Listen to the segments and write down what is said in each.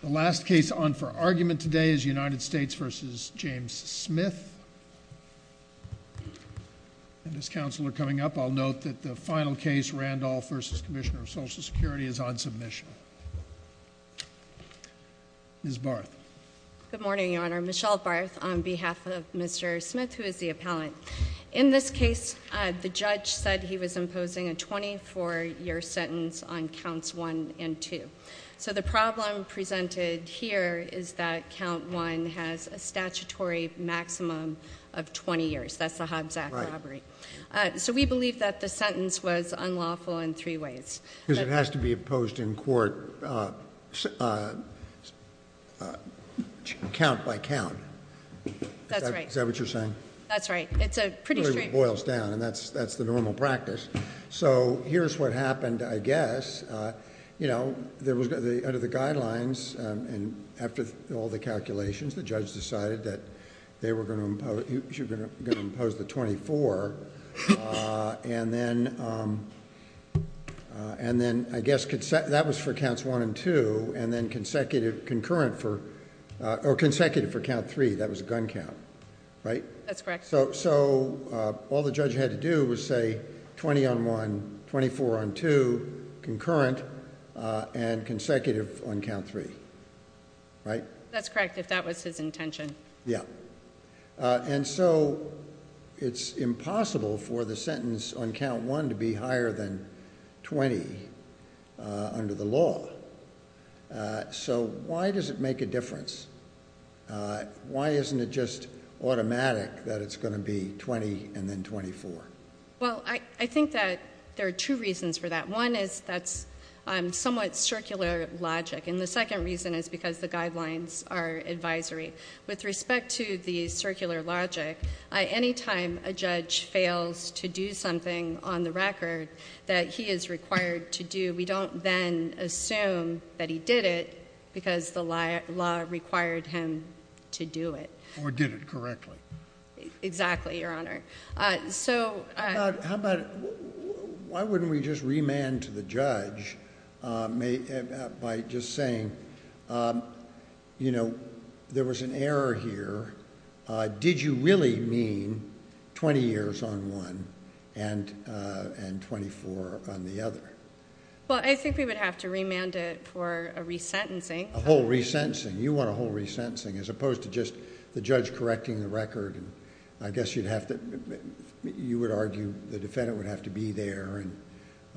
The last case on for argument today is United States v. James Smith. And as counsel are coming up, I'll note that the final case, Randolph v. Commissioner of Social Security, is on submission. Ms. Barth. Good morning, Your Honor. Michelle Barth on behalf of Mr. Smith, who is the appellant. In this case, the judge said he was imposing a 24-year sentence on counts 1 and 2. So the problem presented here is that count 1 has a statutory maximum of 20 years. That's the Hobbs Act robbery. So we believe that the sentence was unlawful in three ways. Because it has to be imposed in court, count by count. That's right. Is that what you're saying? That's right. It's a pretty straight... It really boils down, and that's the normal practice. So here's what happened, I guess. Under the guidelines, and after all the calculations, the judge decided that they were going to impose the 24. And then, I guess, that was for counts 1 and 2. And then consecutive for count 3, that was a gun count, right? That's correct. So all the judge had to do was say 20 on 1, 24 on 2, concurrent, and consecutive on count 3, right? That's correct, if that was his intention. Yeah. And so it's impossible for the sentence on count 1 to be higher than 20 under the law. So why does it make a difference? Why isn't it just automatic that it's going to be 20 and then 24? Well, I think that there are two reasons for that. One is that's somewhat circular logic. And the second reason is because the guidelines are advisory. With respect to the circular logic, any time a judge fails to do something on the record that he is required to do, we don't then assume that he did it because the law required him to do it. Or did it correctly. Exactly, Your Honor. How about why wouldn't we just remand to the judge by just saying, you know, there was an error here. Did you really mean 20 years on one and 24 on the other? Well, I think we would have to remand it for a resentencing. A whole resentencing. You want a whole resentencing as opposed to just the judge correcting the record. I guess you would argue the defendant would have to be there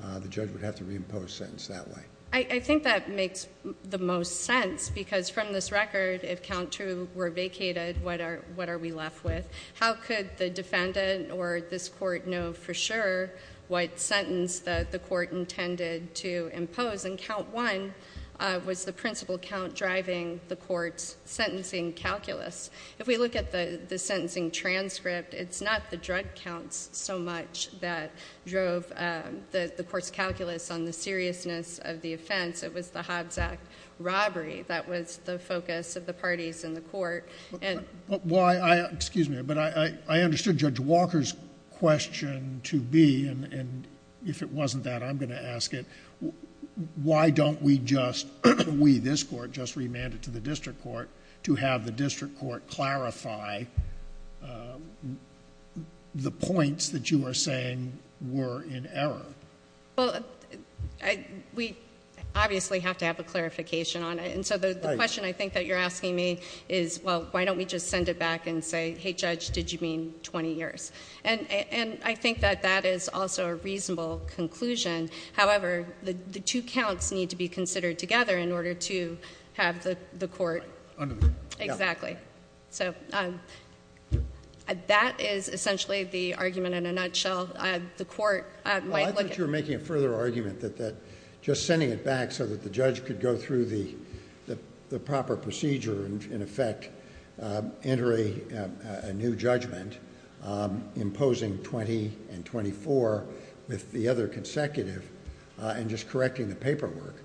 and the judge would have to reimpose sentence that way. I think that makes the most sense because from this record, if count two were vacated, what are we left with? How could the defendant or this court know for sure what sentence the court intended to impose? And count one was the principal count driving the court's sentencing calculus. If we look at the sentencing transcript, it's not the drug counts so much that drove the court's calculus on the seriousness of the offense. It was the Hobbs Act robbery that was the focus of the parties in the court. Excuse me, but I understood Judge Walker's question to be, and if it wasn't that, I'm going to ask it, why don't we just, we, this court, just remand it to the district court to have the district court clarify the points that you are saying were in error? Well, we obviously have to have a clarification on it. And so the question I think that you're asking me is, well, why don't we just send it back and say, hey, Judge, did you mean 20 years? And I think that that is also a reasonable conclusion. However, the two counts need to be considered together in order to have the court. Exactly. Exactly. So that is essentially the argument in a nutshell. The court might look at- Well, I thought you were making a further argument that just sending it back so that the judge could go through the proper procedure and, in effect, enter a new judgment imposing 20 and 24 with the other consecutive and just correcting the paperwork.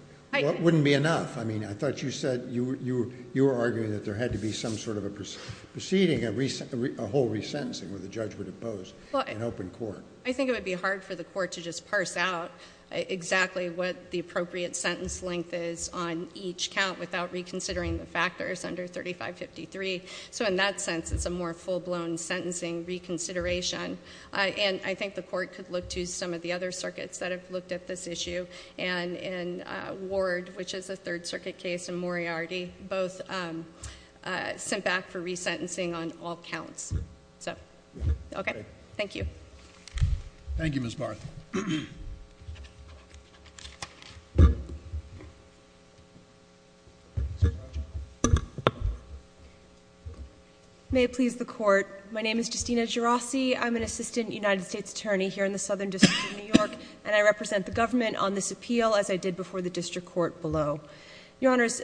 Wouldn't be enough. I mean, I thought you said you were arguing that there had to be some sort of a proceeding, a whole resentencing where the judge would impose an open court. I think it would be hard for the court to just parse out exactly what the appropriate sentence length is on each count without reconsidering the factors under 3553. So in that sense, it's a more full-blown sentencing reconsideration. And I think the court could look to some of the other circuits that have looked at this issue. And in Ward, which is a Third Circuit case, and Moriarty, both sent back for resentencing on all counts. So, okay. Thank you. Thank you, Ms. Barth. May it please the court. My name is Justina Gerasi. I'm an Assistant United States Attorney here in the Southern District of New York. And I represent the government on this appeal as I did before the district court below. Your Honors,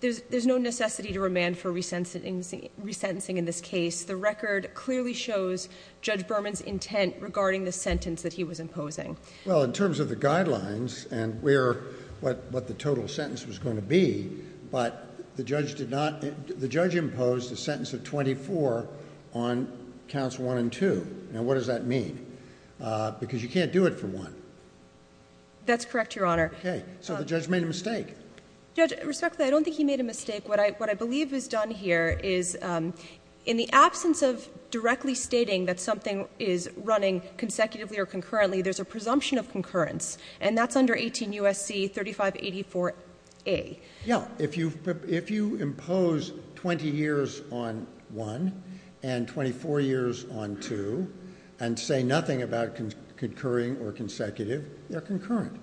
there's no necessity to remand for resentencing in this case. The record clearly shows Judge Berman's intent regarding the sentence that he was imposing. Well, in terms of the guidelines and where, what the total sentence was going to be. But the judge imposed a sentence of 24 on counts 1 and 2. Now, what does that mean? Because you can't do it for 1. That's correct, Your Honor. Okay. So the judge made a mistake. Judge, respectfully, I don't think he made a mistake. What I believe is done here is in the absence of directly stating that something is running consecutively or concurrently, there's a presumption of concurrence. And that's under 18 U.S.C. 3584A. Yeah. If you impose 20 years on 1 and 24 years on 2 and say nothing about concurring or consecutive, they're concurrent.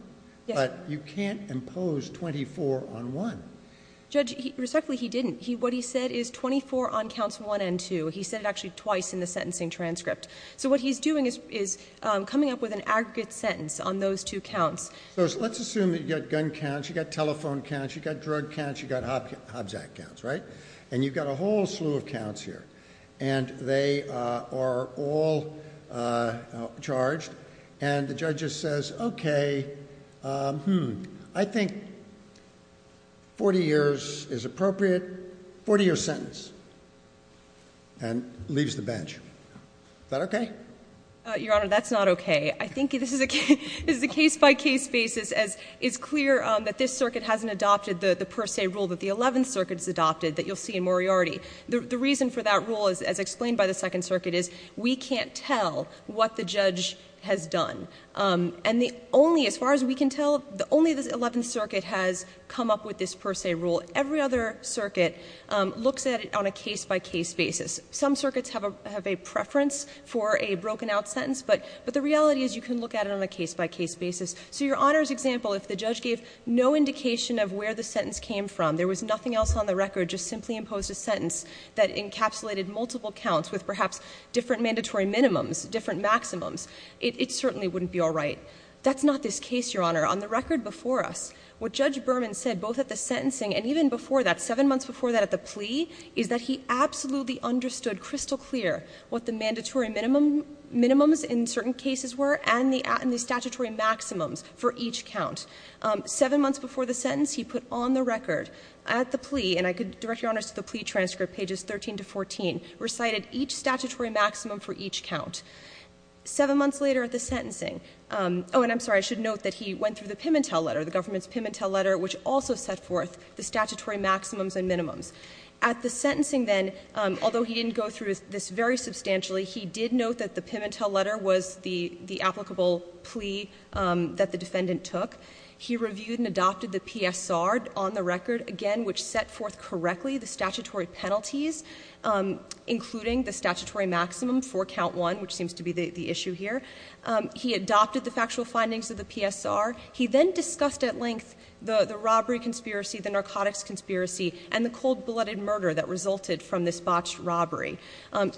But you can't impose 24 on 1. Judge, respectfully, he didn't. What he said is 24 on counts 1 and 2. He said it actually twice in the sentencing transcript. So what he's doing is coming up with an aggregate sentence on those two counts. So let's assume that you've got gun counts, you've got telephone counts, you've got drug counts, you've got Hobbs Act counts, right? And you've got a whole slew of counts here. And they are all charged. And the judge just says, okay, hmm, I think 40 years is appropriate, 40-year sentence, and leaves the bench. Is that okay? Your Honor, that's not okay. I think this is a case-by-case basis as it's clear that this circuit hasn't adopted the per se rule that the Eleventh Circuit's adopted that you'll see in Moriarty. The reason for that rule, as explained by the Second Circuit, is we can't tell what the judge has done. And the only, as far as we can tell, the only the Eleventh Circuit has come up with this per se rule. Every other circuit looks at it on a case-by-case basis. Some circuits have a preference for a broken out sentence, but the reality is you can look at it on a case-by-case basis. So your Honor's example, if the judge gave no indication of where the sentence came from, there was nothing else on the record, just simply imposed a sentence that encapsulated multiple counts with perhaps different mandatory minimums, different maximums, it certainly wouldn't be all right. That's not this case, Your Honor. On the record before us, what Judge Berman said, both at the sentencing and even before that, at the plea, is that he absolutely understood crystal clear what the mandatory minimums in certain cases were and the statutory maximums for each count. Seven months before the sentence, he put on the record at the plea, and I could direct Your Honor to the plea transcript, pages 13 to 14, recited each statutory maximum for each count. Seven months later at the sentencing, and I'm sorry, I should note that he went through the Pimentel letter, the government's Pimentel letter, which also set forth the statutory maximums and minimums. At the sentencing then, although he didn't go through this very substantially, he did note that the Pimentel letter was the applicable plea that the defendant took. He reviewed and adopted the PSR on the record, again, which set forth correctly the statutory penalties, including the statutory maximum for count one, which seems to be the issue here. He adopted the factual findings of the PSR. He then discussed at length the robbery conspiracy, the narcotics conspiracy, and the cold-blooded murder that resulted from this botched robbery.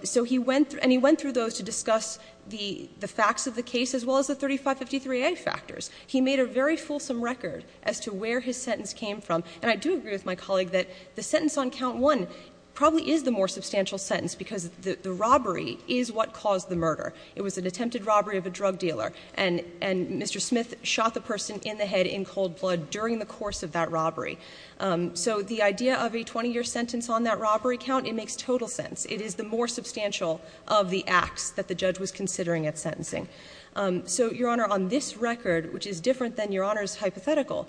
So he went through, and he went through those to discuss the facts of the case, as well as the 3553a factors. He made a very fulsome record as to where his sentence came from. And I do agree with my colleague that the sentence on count one probably is the more substantial sentence, because the robbery is what caused the murder. It was an attempted robbery of a drug dealer. And Mr. Smith shot the person in the head in cold blood during the course of that robbery. So the idea of a 20-year sentence on that robbery count, it makes total sense. It is the more substantial of the acts that the judge was considering at sentencing. So, Your Honor, on this record, which is different than Your Honor's hypothetical,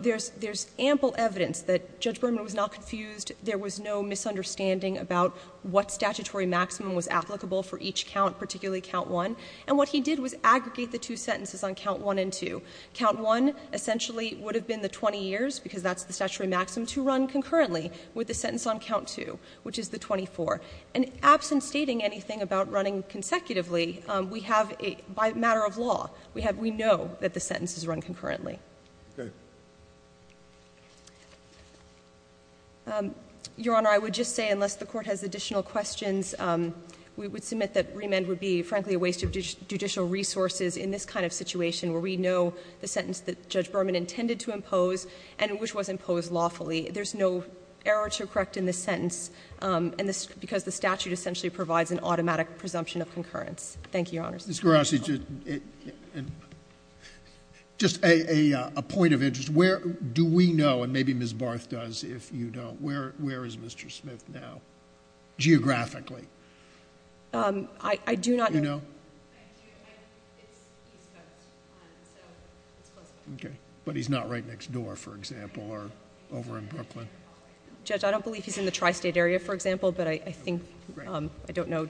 there's ample evidence that Judge Berman was not confused, there was no misunderstanding about what statutory maximum was applicable for each count, particularly count one. And what he did was aggregate the two sentences on count one and two. Count one essentially would have been the 20 years, because that's the statutory maximum, to run concurrently with the sentence on count two, which is the 24. And absent stating anything about running consecutively, we have a by matter of law, we know that the sentence is run concurrently. Your Honor, I would just say, unless the Court has additional questions, we would frankly a waste of judicial resources in this kind of situation, where we know the sentence that Judge Berman intended to impose, and which was imposed lawfully. There's no error to correct in this sentence, because the statute essentially provides an automatic presumption of concurrence. Thank you, Your Honor. Mr. Gerasi, just a point of interest. Where do we know, and maybe Ms. Barth does, if you don't, where is Mr. Smith now, geographically? I do not know. Do you know? I do. It's east coast, so it's close by. Okay. But he's not right next door, for example, or over in Brooklyn? Judge, I don't believe he's in the tri-state area, for example, but I think, I don't know.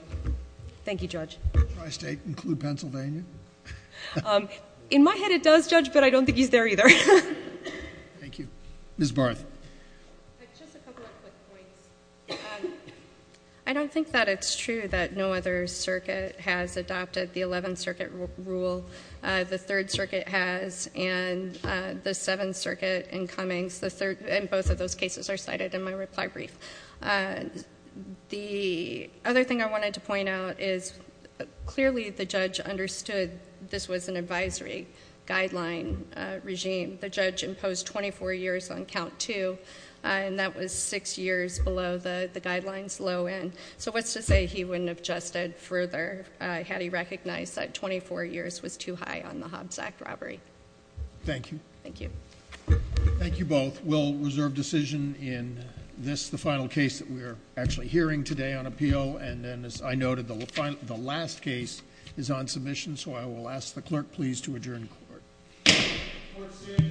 Thank you, Judge. Does tri-state include Pennsylvania? In my head, it does, Judge, but I don't think he's there either. Thank you. Ms. Barth. Just a couple of quick points. I don't think that it's true that no other circuit has adopted the 11th Circuit rule. The 3rd Circuit has, and the 7th Circuit in Cummings, and both of those cases are cited in my reply brief. The other thing I wanted to point out is, clearly, the judge understood this was an advisory guideline regime. The judge imposed 24 years on count two, and that was six years below the guideline's low end. So what's to say he wouldn't have adjusted further had he recognized that 24 years was too high on the Hobbs Act robbery? Thank you. Thank you. Thank you both. We'll reserve decision in this, the final case that we are actually hearing today on appeal, and then, as I noted, the last case is on submission, so I will ask the clerk, please, to adjourn the court. Court is adjourned.